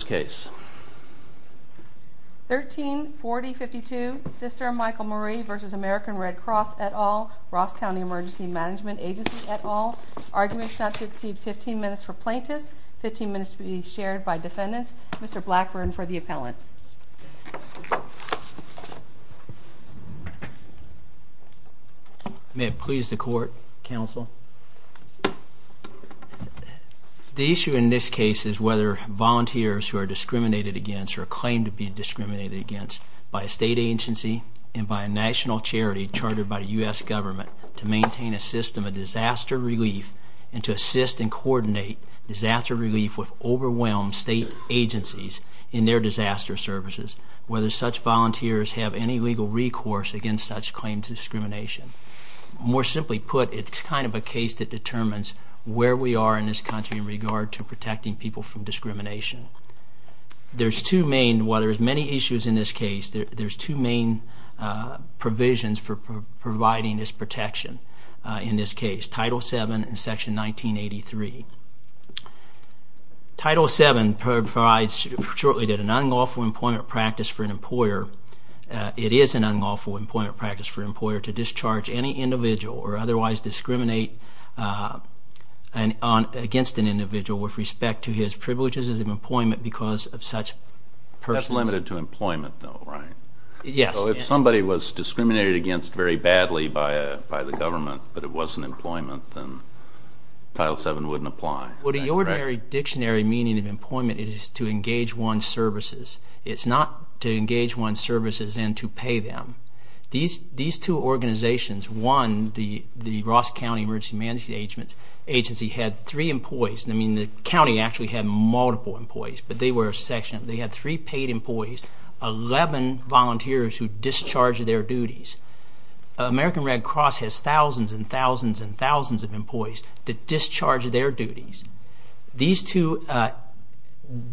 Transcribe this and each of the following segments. case 1340 52 sister Michael Marie v. American Red Cross at all Ross County Emergency Management Agency at all arguments not to exceed 15 minutes for plaintiffs 15 minutes to be shared by defendants Mr. Blackburn for the appellant may please the court counsel the issue in this case is whether volunteers who are discriminated against or claim to be discriminated against by a state agency and by a national charity chartered by the US government to maintain a system of disaster relief and to assist and coordinate disaster relief with overwhelmed state agencies in their disaster services whether such volunteers have any legal recourse against such claims discrimination more simply put it's kind of a case that determines where we are in this country in regard to protecting people from discrimination there's two main what there's many issues in this case there's two main provisions for providing this protection in this case title 7 section 1983 title 7 provides shortly did an unlawful employment practice for an employer it is an unlawful employment practice for employer to discharge any individual or otherwise discriminate and on against an individual with respect to his privileges of employment because of such person limited to employment though right yes if somebody was discriminated against very badly by a by the government but it wasn't employment and title 7 wouldn't apply what a ordinary dictionary meaning of employment is to engage one services it's not to engage one services and to pay them these these two organizations one the the Ross County emergency management agency had three employees I mean the county actually had multiple employees but they were section they had three paid employees 11 volunteers who discharged their duties American Red Cross has thousands and thousands and thousands of employees that discharged their duties these two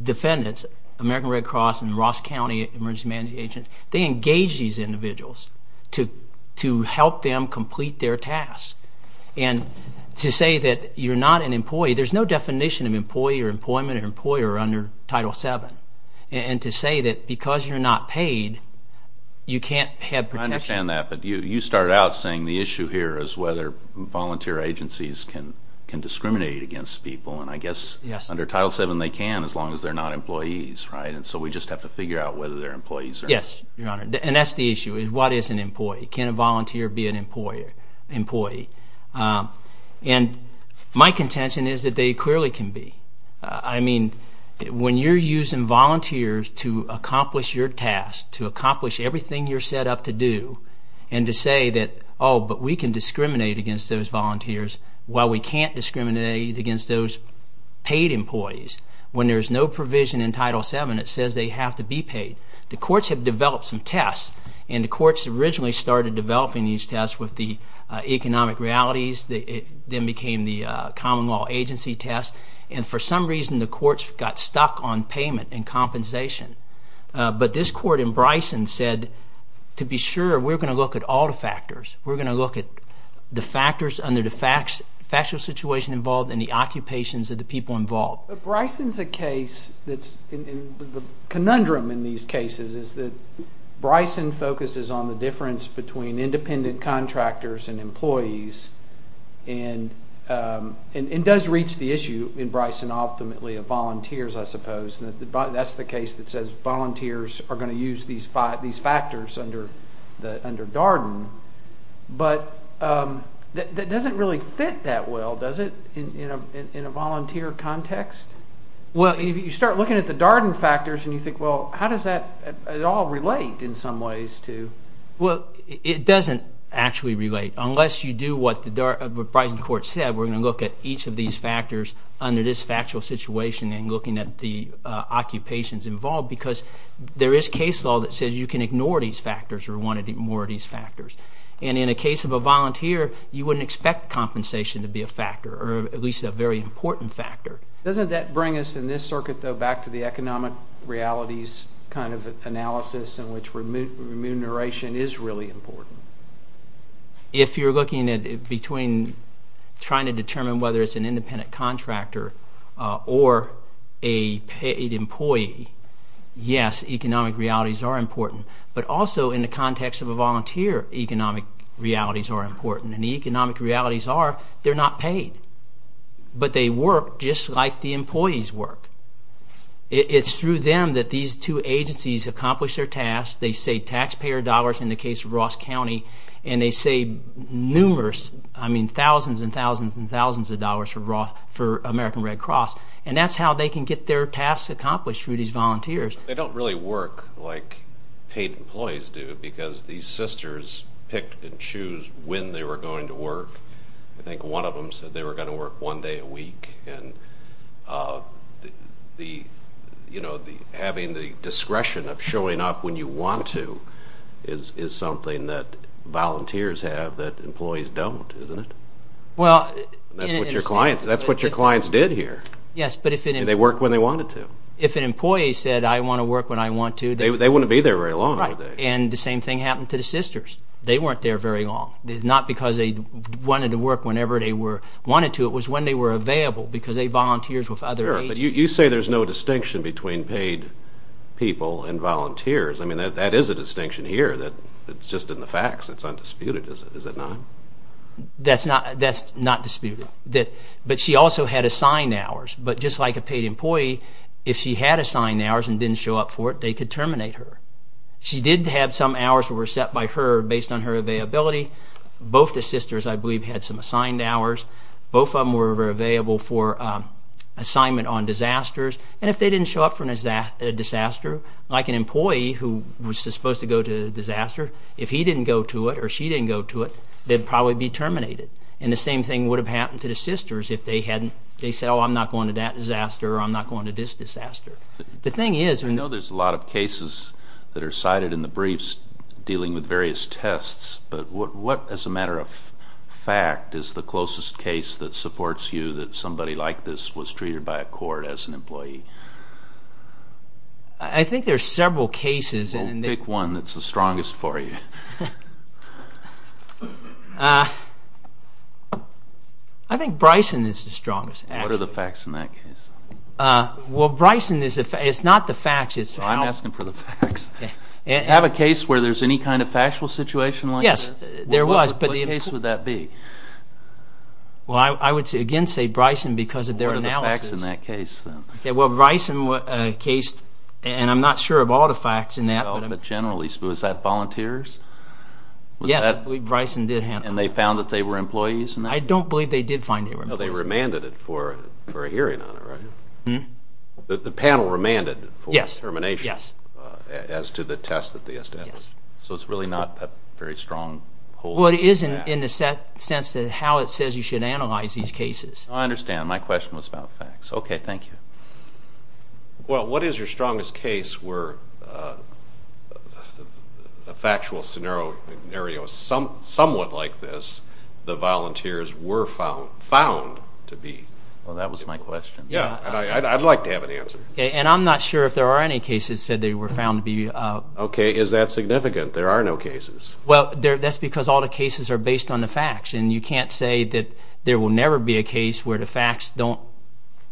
defendants American Red Cross and Ross County emergency management agents they engage these individuals to to help them complete their tasks and to say that you're not an employee there's no definition of employee or employment or employer under title 7 and to say that because you're not paid you can't have protection that but you you started out saying the issue here is whether volunteer agencies can can discriminate against people and I guess yes under title 7 they can as long as they're not employees right and so we just have to figure out whether they're employees yes your honor and that's the issue is what is an employee can a volunteer be an employer employee and my contention is that they clearly can be I mean when you're using volunteers to accomplish your task to accomplish everything you're set up to do and to say that oh but we can discriminate against those volunteers while we can't discriminate against those paid employees when there is no provision in title 7 it says they have to be paid the courts have developed some tests and the courts originally started developing these tests with the economic realities they then became the common law agency test and for some reason the courts got stuck on payment and compensation but this court in Bryson said to be sure we're going to look at all the factors we're going to look at the factors under the factual situation involved in the occupations of the people involved. Bryson's a case that's the conundrum in these cases is that Bryson focuses on the difference between independent contractors and employees and it does reach the issue in Bryson ultimately of volunteers I suppose that's the case that says volunteers are going to use these five these factors under the under but that doesn't really fit that well does it you know in a volunteer context well if you start looking at the Darden factors and you think well how does that at all relate in some ways to well it doesn't actually relate unless you do what the Bryson court said we're going to look at each of these factors under this factual situation and looking at the occupations involved because there is case law that says you can ignore these factors or want to get more of factors and in a case of a volunteer you wouldn't expect compensation to be a factor or at least a very important factor. Doesn't that bring us in this circuit though back to the economic realities kind of analysis in which remuneration is really important? If you're looking at between trying to determine whether it's an independent contractor or a paid employee yes economic realities are important but also in the context of a volunteer economic realities are important and the economic realities are they're not paid but they work just like the employees work it's through them that these two agencies accomplish their tasks they say taxpayer dollars in the case of Ross County and they say numerous I mean thousands and thousands and thousands of dollars for American Red Cross and that's how they can get their tasks accomplished through these volunteers. They don't really work like paid employees do because these sisters picked and choose when they were going to work I think one of them said they were going to work one day a week and the you know the having the discretion of showing up when you want to is is something that volunteers have that employees don't isn't it? Well that's what your clients that's what when they wanted to. If an employee said I want to work when I want to they wouldn't be there very long and the same thing happened to the sisters they weren't there very long not because they wanted to work whenever they were wanted to it was when they were available because they volunteers with other. You say there's no distinction between paid people and volunteers I mean that that is a distinction here that it's just in the facts it's undisputed is it not? That's not that's not disputed that but she also had assigned hours but just like a paid employee if she had assigned hours and didn't show up for it they could terminate her. She did have some hours were set by her based on her availability both the sisters I believe had some assigned hours both of them were available for assignment on disasters and if they didn't show up for a disaster like an employee who was supposed to go to the disaster if he didn't go to it or she didn't go to it they'd probably be terminated and the same thing would have happened to the I'm not going to that disaster I'm not going to this disaster. The thing is I know there's a lot of cases that are cited in the briefs dealing with various tests but what what as a matter of fact is the closest case that supports you that somebody like this was treated by a court as an employee? I think there's several cases and pick one that's the strongest for you. I think Bryson is the What are the facts in that case? Well Bryson is not the facts. I'm asking for the facts. Have a case where there's any kind of factual situation like this? Yes there was. What case would that be? Well I would again say Bryson because of their analysis. What are the facts in that case? Well Bryson was a case and I'm not sure of all the facts in that. But generally was that volunteers? Yes Bryson did handle it. And they found that they were employees? I don't believe they did find they were employees. No they remanded it for for a hearing on it right? Hmm. The panel remanded for termination? Yes. As to the test that they assessed? Yes. So it's really not a very strong hold? Well it is in the sense that how it says you should analyze these cases. I understand my question was about facts. Okay thank you. Well what is your strongest case where a factual scenario somewhat like this the to be? Well that was my question. Yeah I'd like to have an answer. Okay and I'm not sure if there are any cases said they were found to be. Okay is that significant there are no cases? Well there that's because all the cases are based on the facts and you can't say that there will never be a case where the facts don't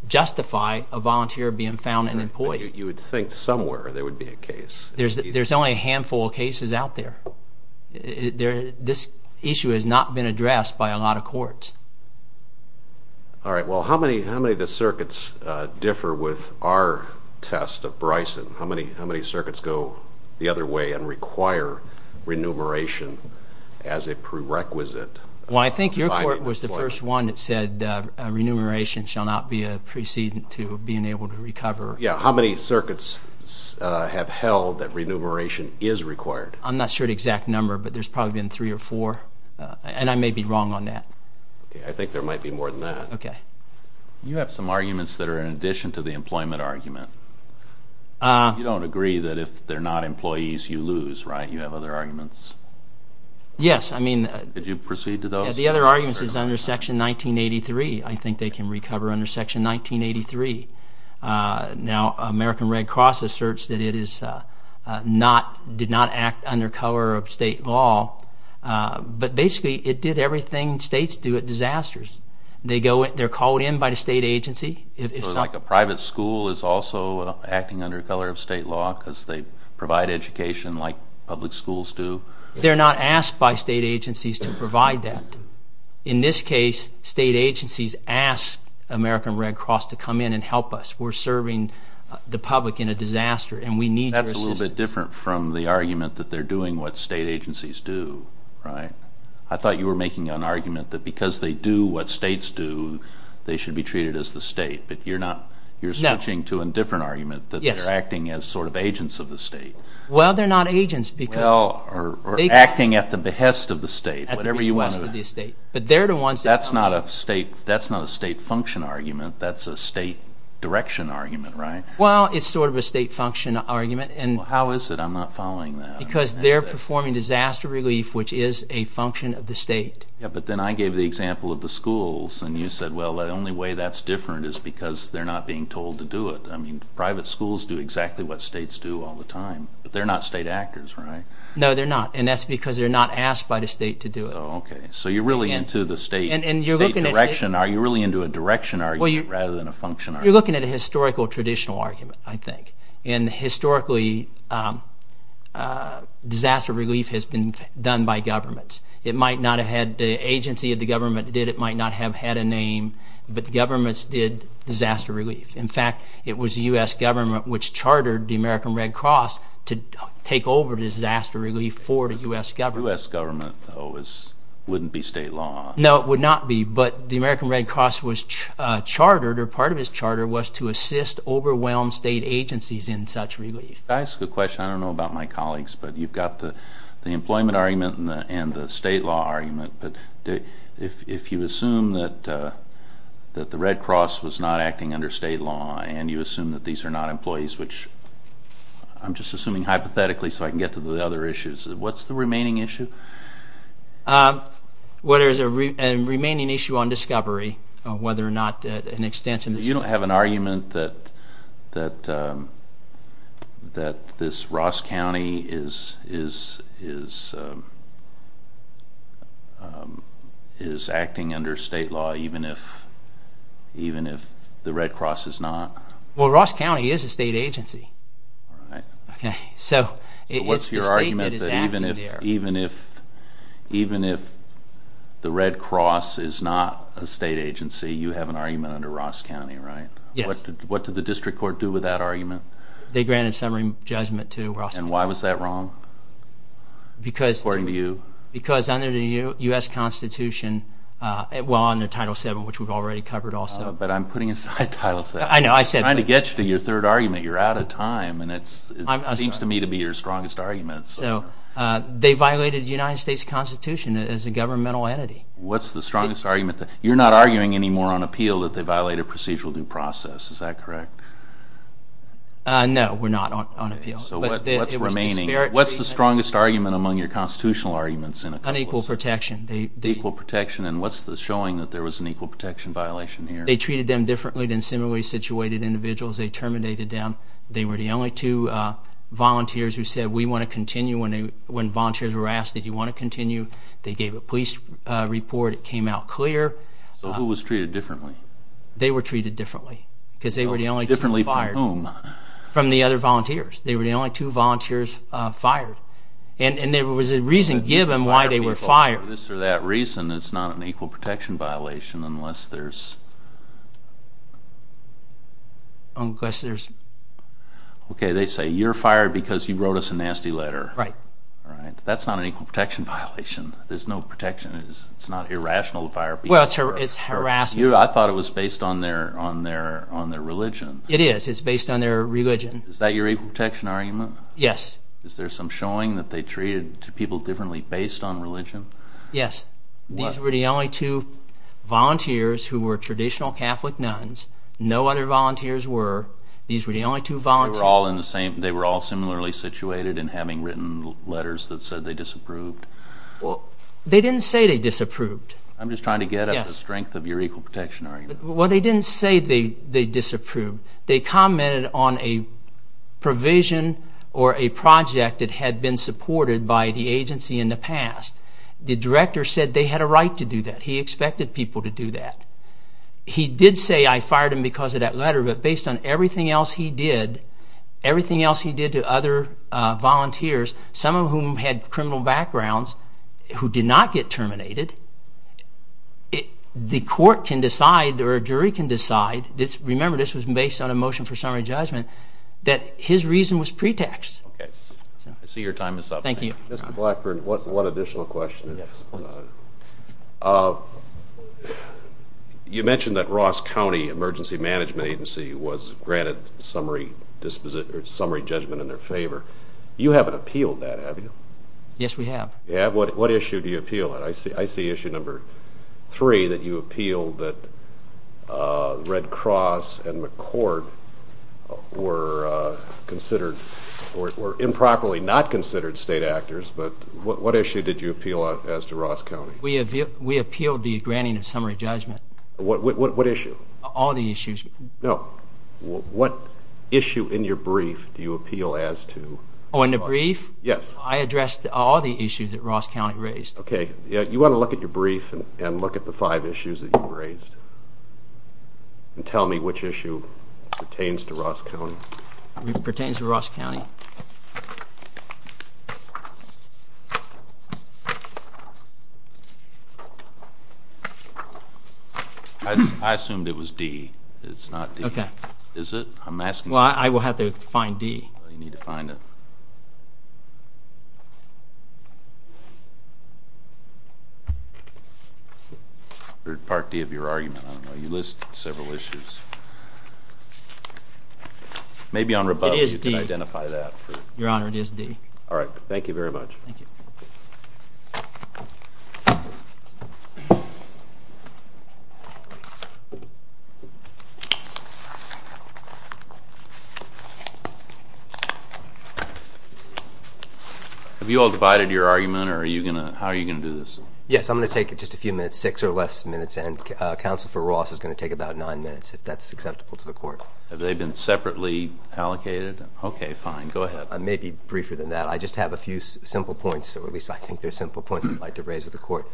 justify a volunteer being found an employee. You would think somewhere there would be a case? There's there's only a handful of cases out there. This issue has not been addressed by a lot of courts. All right well how many how many of the circuits differ with our test of Bryson? How many how many circuits go the other way and require remuneration as a prerequisite? Well I think your court was the first one that said remuneration shall not be a precedent to being able to recover. Yeah how many circuits have held that exact number but there's probably been three or four and I may be wrong on that. I think there might be more than that. Okay. You have some arguments that are in addition to the employment argument. You don't agree that if they're not employees you lose right? You have other arguments? Yes I mean. Did you proceed to those? The other arguments is under section 1983. I think they can recover under section 1983. Now American Red Cross asserts that it is not did not act under color of state law but basically it did everything states do at disasters. They go in they're called in by the state agency. It's not like a private school is also acting under color of state law because they provide education like public schools do. They're not asked by state agencies to provide that. In this case state agencies ask American Red Cross to come in and help us. We're serving the public in a disaster and we need that's a little bit different from the argument that they're doing what state agencies do right? I thought you were making an argument that because they do what states do they should be treated as the state but you're not you're switching to a different argument that they're acting as sort of agents of the state. Well they're not agents because. Well or acting at the behest of the state. At the behest of the state but they're the ones. That's not a state that's not a state function argument that's a state direction argument right? Well it's sort of a state function argument and. How is it I'm not following that. Because they're performing disaster relief which is a function of the state. Yeah but then I gave the example of the schools and you said well the only way that's different is because they're not being told to do it. I mean private schools do exactly what states do all the time but they're not state actors right? No they're not and that's because they're not asked by the state to do it. Okay so you're really into the state. And you're looking at. Direction are you really into a direction argument rather than a function argument. You're looking at a historical traditional argument I think. And historically disaster relief has been done by governments. It might not have had the agency of the government did it might not have had a name but the governments did disaster relief. In fact it was the US government which chartered the American Red Cross to take over disaster relief for the US government. The US government wouldn't be state law. No it would not be but the American Red Cross was chartered or part of his charter was to assist overwhelmed state agencies in such relief. I ask a question I don't know about my colleagues but you've got the the employment argument and the state law argument but if you assume that that the Red Cross was not acting under state law and you assume that these are not employees which I'm just assuming hypothetically so I can get to the other issues. What's the remaining issue? What is a remaining issue on discovery whether or not an extension. You don't have an argument that that that this Ross County is is is is acting under state law even if even if the Red Cross is not. Well Ross County is a state agency. Okay so what's your argument that even if even if even if the Red Cross is not a state agency you have an argument under Ross County right? Yes. What did the district court do with that argument? They granted summary judgment to Ross County. And why was that wrong? Because according to you. Because under the US Constitution well under title 7 which we've already covered also. But I'm putting aside title 7. I know I said. I'm trying to get you to your third argument you're out of time and it seems to me to be your strongest argument. So they violated the United States Constitution as a governmental entity. What's the you're not arguing anymore on appeal that they violate a procedural due process is that correct? No we're not on appeal. So what's remaining? What's the strongest argument among your constitutional arguments? Unequal protection. Equal protection and what's the showing that there was an equal protection violation here? They treated them differently than similarly situated individuals. They terminated them. They were the only two volunteers who said we want to continue when they when volunteers were asked that you want to continue. They gave a police report. It came out clear. So who was treated differently? They were treated differently because they were the only two fired. From whom? From the other volunteers. They were the only two volunteers fired. And there was a reason given why they were fired. For this or that reason it's not an equal protection violation unless there's. Unless there's. Okay they say you're fired because you wrote us a nasty letter. Right. Right. That's not an equal protection violation. There's no protection. It's not irrational to fire people. Well it's harassment. I thought it was based on their on their on their religion. It is. It's based on their religion. Is that your equal protection argument? Yes. Is there some showing that they treated people differently based on religion? Yes. These were the only two volunteers who were traditional Catholic nuns. No other volunteers were. These were the only two volunteers. They were all in the same. They were all similarly situated and having written letters that said they disapproved. Well they didn't say they disapproved. I'm just trying to get at the strength of your equal protection argument. Well they didn't say they they disapproved. They commented on a provision or a project that had been supported by the agency in the past. The director said they had a right to do that. He expected people to do that. He did say I fired him because of that letter but based on everything else he did, everything else he did to other volunteers, some of whom had criminal backgrounds, who did not get terminated, the court can decide or a jury can decide, remember this was based on a motion for summary judgment, that his reason was pretext. I see your time is up. Thank you. Mr. Blackburn, one additional question. You mentioned that Ross County Emergency Management Agency was granted summary judgment in their favor. You haven't appealed that, have you? Yes, we have. What issue do you appeal? I see issue number three that you appealed that Red Cross and McCord were considered or improperly not considered state actors, but what issue did you appeal as to Ross County? We appealed the granting of summary judgment. What issue? All the issues. No, what issue in your brief do you appeal as to? Oh, in the brief? Yes. I addressed all the issues that Ross County raised. Okay, you want to look at your brief and look at the five issues that you raised and tell me which issue pertains to Ross County. It pertains to Ross County. I assumed it was D. It's not D. Okay. Is it? I'm asking. Well, I will have to find D. You need to find it. Part D of your argument. You list several issues. Maybe on rebuttal you can identify that. Your Honor, it is D. All right. Thank you very much. Have you all divided your argument? Or are you gonna? How are you gonna do this? Yes, I'm gonna take it just a few minutes, six or less minutes. And Council for Ross is gonna take about nine minutes if that's acceptable to the court. Have they been separately allocated? Okay, fine. Go ahead. I may be briefer than that. I just have a few simple points, or at least I think they're simple points I'd like to raise with the court.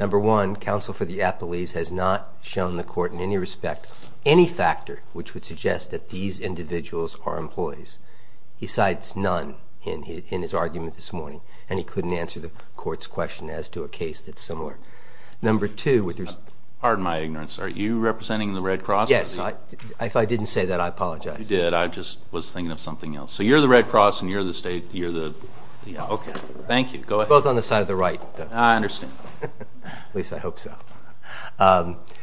Number one, Council for the Appellees has not shown the court in any respect any factor which would suggest that these individuals are employees. He cites none in his argument this morning, and he couldn't answer the court's question as to a case that's similar. Number two... Pardon my ignorance. Are you representing the Red Cross? Yes. If I didn't say that, I apologize. You did. I just was thinking of something else. So you're the Red Cross, and you're the state... You're the... Okay. Thank you. Go ahead. Both on the side of the right. I understand. At least I hope so.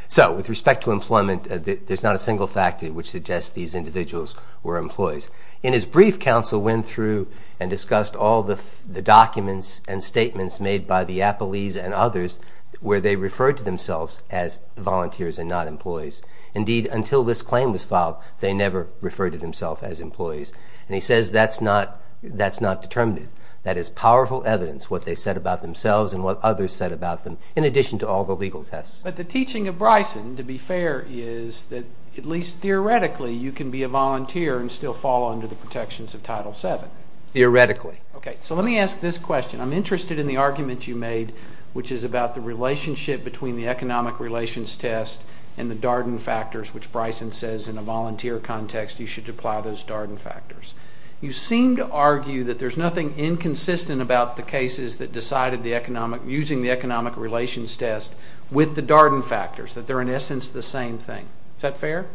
So, with respect to employment, there's not a single factor which suggests these individuals were employees. In his brief, Council went through and discussed all the documents and statements made by the Appellees and others where they were employed. And he said that they never referred to themselves as employees. And he says that's not determinative. That is powerful evidence, what they said about themselves and what others said about them, in addition to all the legal tests. But the teaching of Bryson, to be fair, is that, at least theoretically, you can be a volunteer and still fall under the protections of Title VII. Theoretically. Okay. So let me ask this question. I'm interested in the argument you made, which is about the relationship between the economic relations test and the Darden factors, which Bryson says in a volunteer context, you should apply those Darden factors. You seem to argue that there's nothing inconsistent about the cases that decided the economic... Using the economic relations test with the Darden factors, that they're, in essence, the same thing. Is that fair?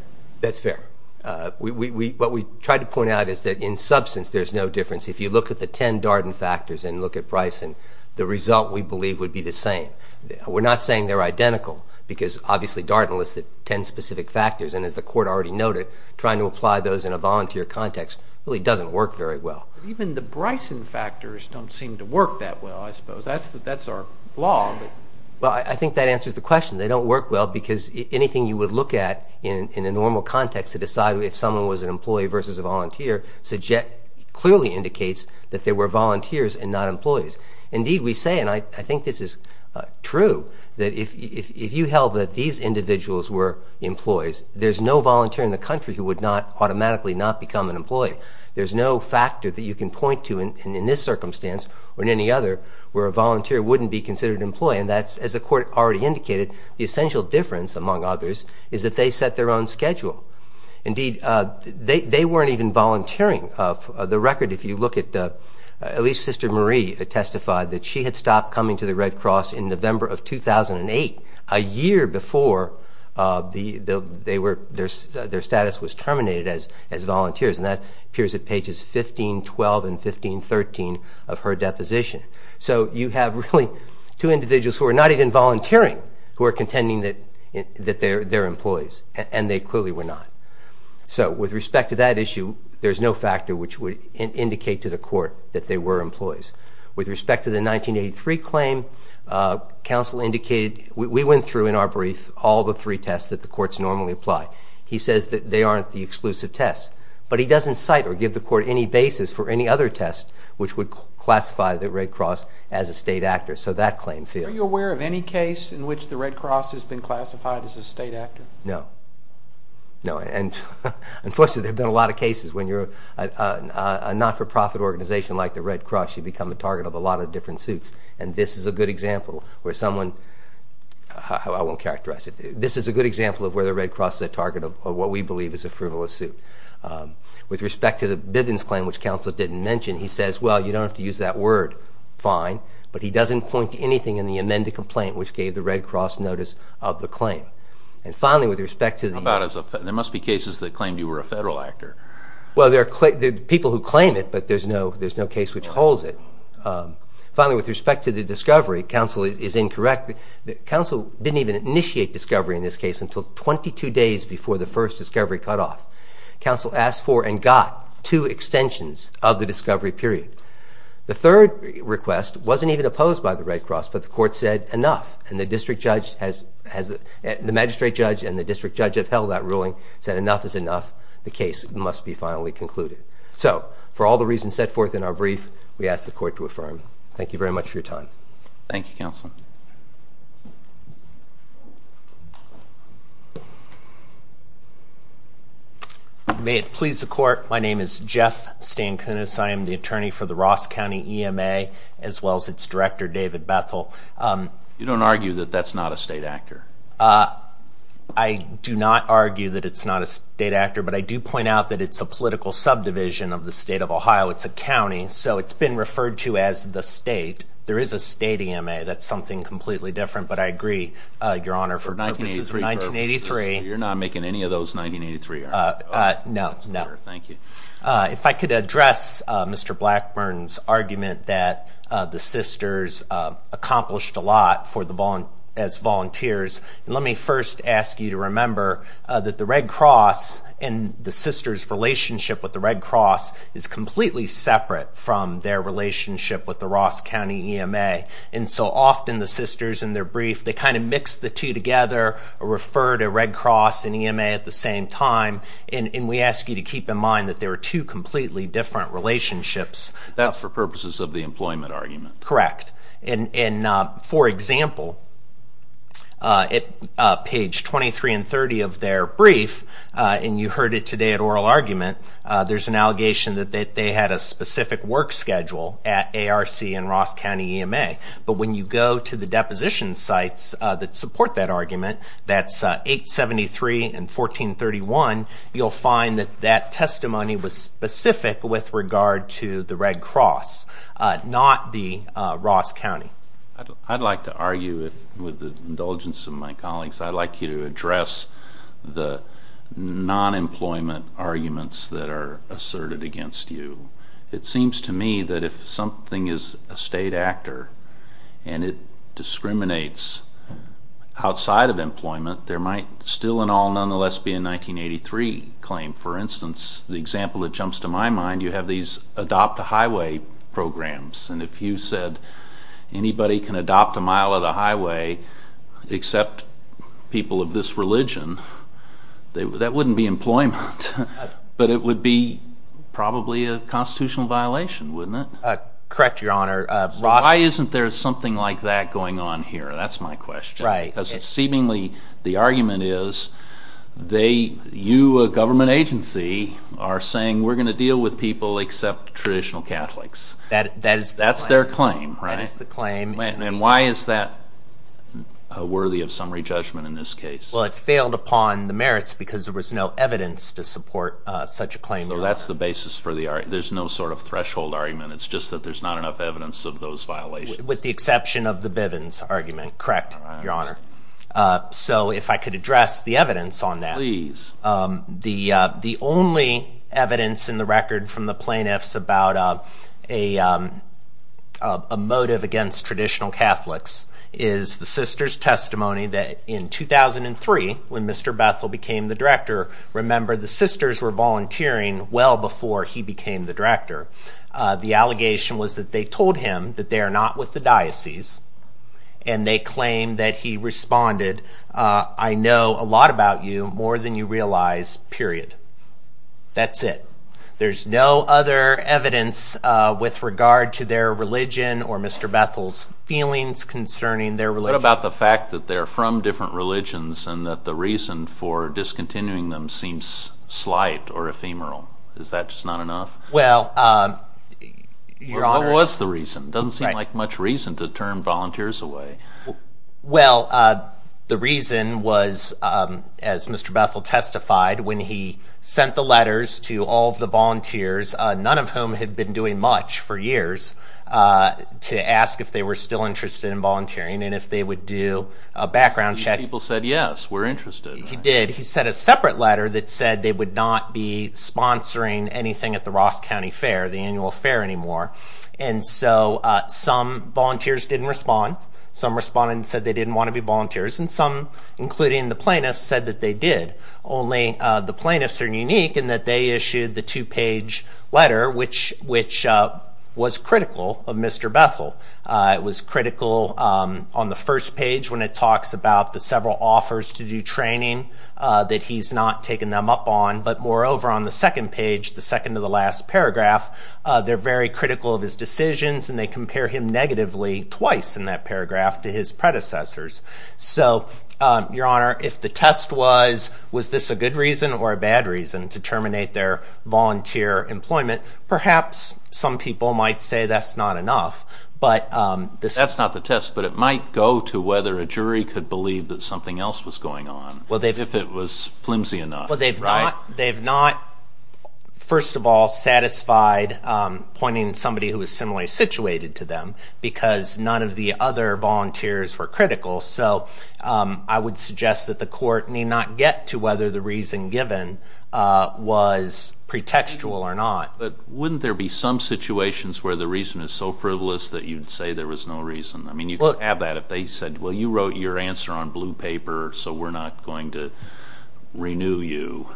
That's fair. What we tried to point out is that, in substance, there's no difference. If you look at the 10 Darden factors and look at Bryson, the result, we believe, would be the same. We're not saying they're identical because, obviously, Darden listed 10 specific factors. And as the court already noted, trying to apply those in a volunteer context really doesn't work very well. Even the Bryson factors don't seem to work that well, I suppose. That's our law. Well, I think that answers the question. They don't work well because anything you would look at in a normal context to decide if someone was an employee versus a volunteer clearly indicates that they were volunteers and not employees. Indeed, we say, and I think this is true, that if you held that these individuals were employees, there's no volunteer in the country who would not automatically not become an employee. There's no factor that you can point to in this circumstance or in any other where a volunteer wouldn't be considered an employee. And that's, as the court already indicated, the essential difference among others is that they set their own schedule. Indeed, they weren't even volunteering. The testified that she had stopped coming to the Red Cross in November of 2008, a year before their status was terminated as volunteers. And that appears at pages 15, 12, and 15, 13 of her deposition. So you have really two individuals who are not even volunteering, who are contending that they're employees, and they clearly were not. So with respect to that issue, there's no factor which would indicate to the court that they were employees. With respect to the 1983 claim, counsel indicated... We went through, in our brief, all the three tests that the courts normally apply. He says that they aren't the exclusive tests, but he doesn't cite or give the court any basis for any other test which would classify the Red Cross as a state actor. So that claim fails. Are you aware of any case in which the Red Cross has been classified as a state actor? No. No. And unfortunately, there have been a lot of cases when you're a not for profit organization like the Red Cross, you become a target of a lot of different suits. And this is a good example where someone... I won't characterize it. This is a good example of where the Red Cross is a target of what we believe is a frivolous suit. With respect to the Bivens claim, which counsel didn't mention, he says, well, you don't have to use that word. Fine. But he doesn't point to anything in the amended complaint which gave the Red Cross notice of the claim. And finally, with respect to the... How about as a... Well, there are people who claim it, but there's no case which holds it. Finally, with respect to the discovery, counsel is incorrect. Counsel didn't even initiate discovery in this case until 22 days before the first discovery cut off. Counsel asked for and got two extensions of the discovery period. The third request wasn't even opposed by the Red Cross, but the court said, enough. And the district judge has... The magistrate judge and the district judge upheld that ruling, said enough is enough. The case must be finally concluded. So for all the reasons set forth in our brief, we ask the court to affirm. Thank you very much for your time. Thank you, counsel. May it please the court. My name is Jeff Stankunas. I am the attorney for the Ross County EMA, as well as its director, David Bethel. You don't argue that that's not a state actor? I do not argue that it's not a state actor, but I do point out that it's a political subdivision of the state of Ohio. It's a county, so it's been referred to as the state. There is a state EMA. That's something completely different, but I agree, Your Honor, for purposes of 1983... You're not making any of those 1983, are you? No, no. Thank you. If I could address Mr. Blackburn's argument that the sisters accomplished a lot as volunteers, and let me first ask you to remember that the Red Cross and the sisters' relationship with the Red Cross is completely separate from their relationship with the Ross County EMA. And so often, the sisters, in their brief, they kind of mix the two together, or refer to Red Cross and EMA at the same time, and we ask you to keep in mind that they were two completely different relationships. That's for purposes of the employment argument. Correct. And for example, at page 23 and 30 of their brief, and you heard it today at oral argument, there's an allegation that they had a specific work schedule at ARC and Ross County EMA. But when you go to the deposition sites that support that argument, that's 873 and 1431, you'll find that that testimony was specific with regard to the Red Cross, not the Ross County. I'd like to argue with the indulgence of my colleagues, I'd like you to address the non employment arguments that are asserted against you. It seems to me that if something is a state actor and it discriminates outside of employment, there might still in all nonetheless be a 1983 claim. For instance, the example that jumps to my mind, you have these adopt a highway programs, and if you said anybody can adopt a mile of the highway except people of this religion, that wouldn't be employment, but it would be probably a constitutional violation, wouldn't it? Correct, Your Honor. Ross... Why isn't there something like that going on here? That's my question. Right. Because seemingly the argument is you, a government agency, are saying we're gonna deal with people except traditional Catholics. That's their claim, right? That is the claim. And why is that worthy of summary judgment in this case? Well, it failed upon the merits because there was no evidence to support such a claim, Your Honor. So that's the basis for the... There's no sort of threshold argument, it's just that there's not enough evidence of those violations. With the exception of the Bivens argument. Correct, Your Honor. Correct. So if I could address the evidence on that. Please. The only evidence in the record from the plaintiffs about a motive against traditional Catholics is the sister's testimony that in 2003, when Mr. Bethel became the director, remember the sisters were volunteering well before he became the director. The allegation was that they told him that they are not with the diocese and they claimed that he responded, I know a lot about you, more than you realize, period. That's it. There's no other evidence with regard to their religion or Mr. Bethel's feelings concerning their religion. What about the fact that they're from different religions and that the reason for discontinuing them seems slight or ephemeral? Is that just not enough? Well, Your Honor... What was the reason? It doesn't seem like much reason to turn volunteers away. Well, the reason was, as Mr. Bethel testified, when he sent the letters to all of the volunteers, none of whom had been doing much for years, to ask if they were still interested in volunteering and if they would do a background check. These people said, yes, we're interested. He did. He sent a separate letter that said they would not be sponsoring anything at the Ross County Fair, the annual fair anymore. And so some volunteers didn't respond. Some responded and said they didn't wanna be volunteers and some, including the plaintiffs, said that they did. Only the plaintiffs are unique in that they issued the two page letter, which was critical of Mr. Bethel. It was critical on the first page when it talks about the several offers to do training that he's not taken them up on. But moreover, on the second page, the second to the last paragraph, they're very critical of his decisions and they compare him negatively twice in that paragraph to his predecessors. So, Your Honor, if the test was, was this a good reason or a bad reason to terminate their volunteer employment? Perhaps some people might say that's not enough, but... That's not the test, but it might go to whether a jury could believe that something else was going on, if it was flimsy enough. Well, they've not, first of all, satisfied pointing to somebody who is similarly situated to them because none of the other volunteers were critical. So I would suggest that the court need not get to whether the reason given was pretextual or not. But wouldn't there be some situations where the reason is so frivolous that you'd say there was no reason? I mean, you could have that if they said, well, you wrote your answer on blue paper, so we're not going to renew you.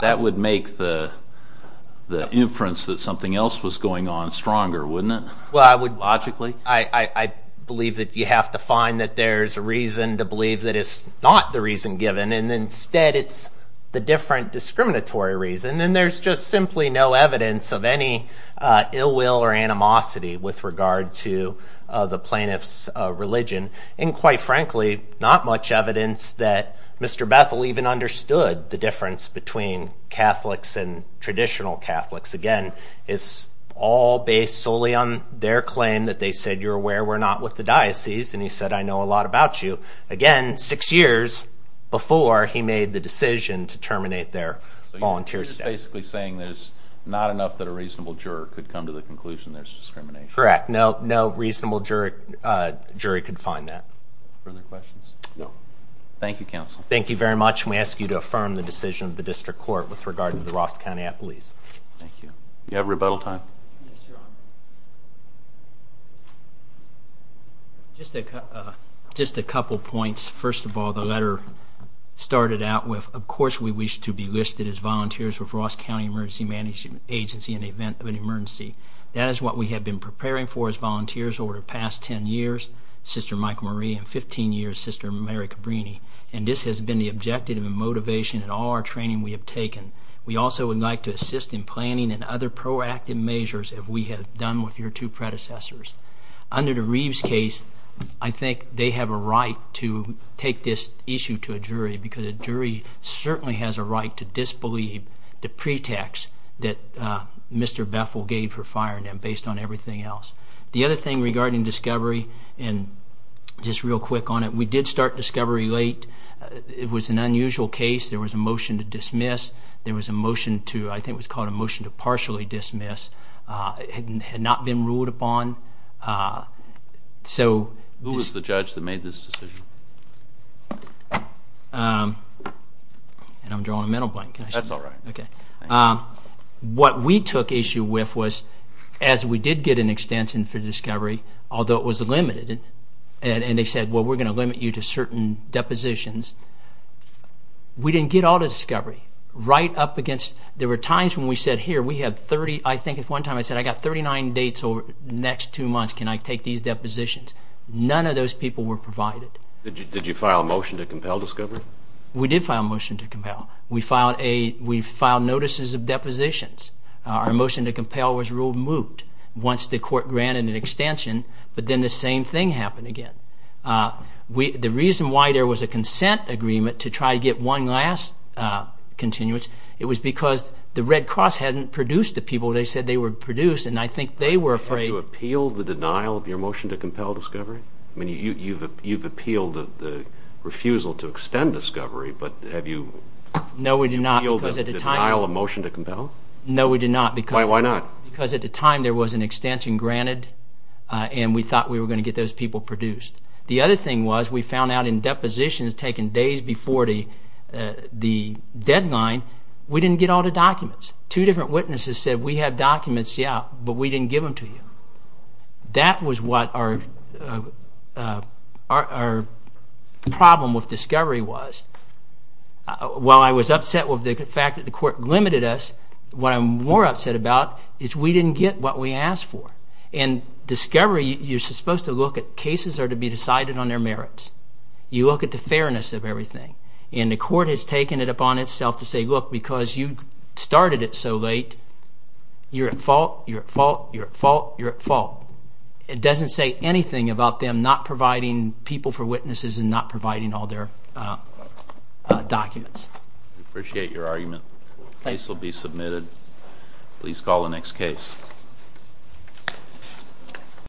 That would make the inference that something else was going on stronger, wouldn't it? Well, I would... Logically? I believe that you have to find that there's a reason to believe that it's not the reason given and instead it's the different discriminatory reason and there's just simply no evidence of any ill will or animosity with regard to the plaintiff's religion. And quite frankly, not much evidence that Mr. Bethel even understood the difference between Catholics and traditional Catholics. Again, it's all based solely on their claim that they said, you're aware we're not with the diocese, and he said, I know a lot about you. Again, six years before he made the decision to terminate their volunteer status. Basically saying there's not enough that a reasonable juror could come to the conclusion there's discrimination. Correct. No reasonable jury could find that. Further questions? No. Thank you, counsel. Thank you very much. And we ask you to affirm the decision of the district court with regard to the Ross County Appalachians. Thank you. You have rebuttal time? Yes, Your Honor. Just a couple points. First of all, the letter started out with, of course, we wish to be listed as volunteers with Ross County Emergency Management Agency in the event of an emergency. That is what we have been preparing for as volunteers over the past 10 years. Sister Michael Marie and 15 years sister Mary Cabrini. And this has been the objective and motivation and all our training we have taken. We also would like to assist in planning and other proactive measures if we have done with your two predecessors. Under the Reeves case, I think they have a right to take this issue to a jury because a jury certainly has a right to disbelieve the pretext that Mr. Bethel gave for firing them based on everything else. The other thing regarding discovery and just real quick on it. We did start discovery late. It was an unusual case. There was a motion to dismiss. There was a motion to I think was called a motion to partially dismiss. Had not been ruled upon. Uh, so who was the judge that made this decision? Um, and I'm drawing a mental blank. That's all right. Okay. Um, what we took issue with was as we did get an extension for discovery, although it was limited and they said, well, we're gonna limit you to certain depositions. We didn't get all the discovery right up against. There were times when we next two months. Can I take these depositions? None of those people were provided. Did you file a motion to compel discovery? We did file a motion to compel. We filed a we filed notices of depositions. Our motion to compel was ruled moot once the court granted an extension. But then the same thing happened again. Uh, we the reason why there was a consent agreement to try to get one last continuance. It was because the Red Cross hadn't produced the people. They said they were produced, and I think they were afraid to appeal the denial of your motion to compel discovery. I mean, you you've you've appealed the refusal to extend discovery. But have you? No, we do not. Because at the time, I'll emotion to compel. No, we did not. Because why? Why not? Because at the time there was an extension granted, and we thought we were gonna get those people produced. The other thing was, we found out in depositions taken days before the the deadline. We didn't get all the documents. Two different witnesses said we have documents, yeah, but we didn't give them to you. That was what our, uh, our problem with discovery was. While I was upset with the fact that the court limited us, what I'm more upset about is we didn't get what we asked for. And discovery, you're supposed to look at cases are to be decided on their merits. You look at the fairness of everything, and the court has taken it upon itself to say, look, because you started it so late, you're at fault. You're at fault. You're at fault. You're at fault. It doesn't say anything about them not providing people for witnesses and not providing all their, uh, documents. Appreciate your argument. Case will be submitted. Please call the next case.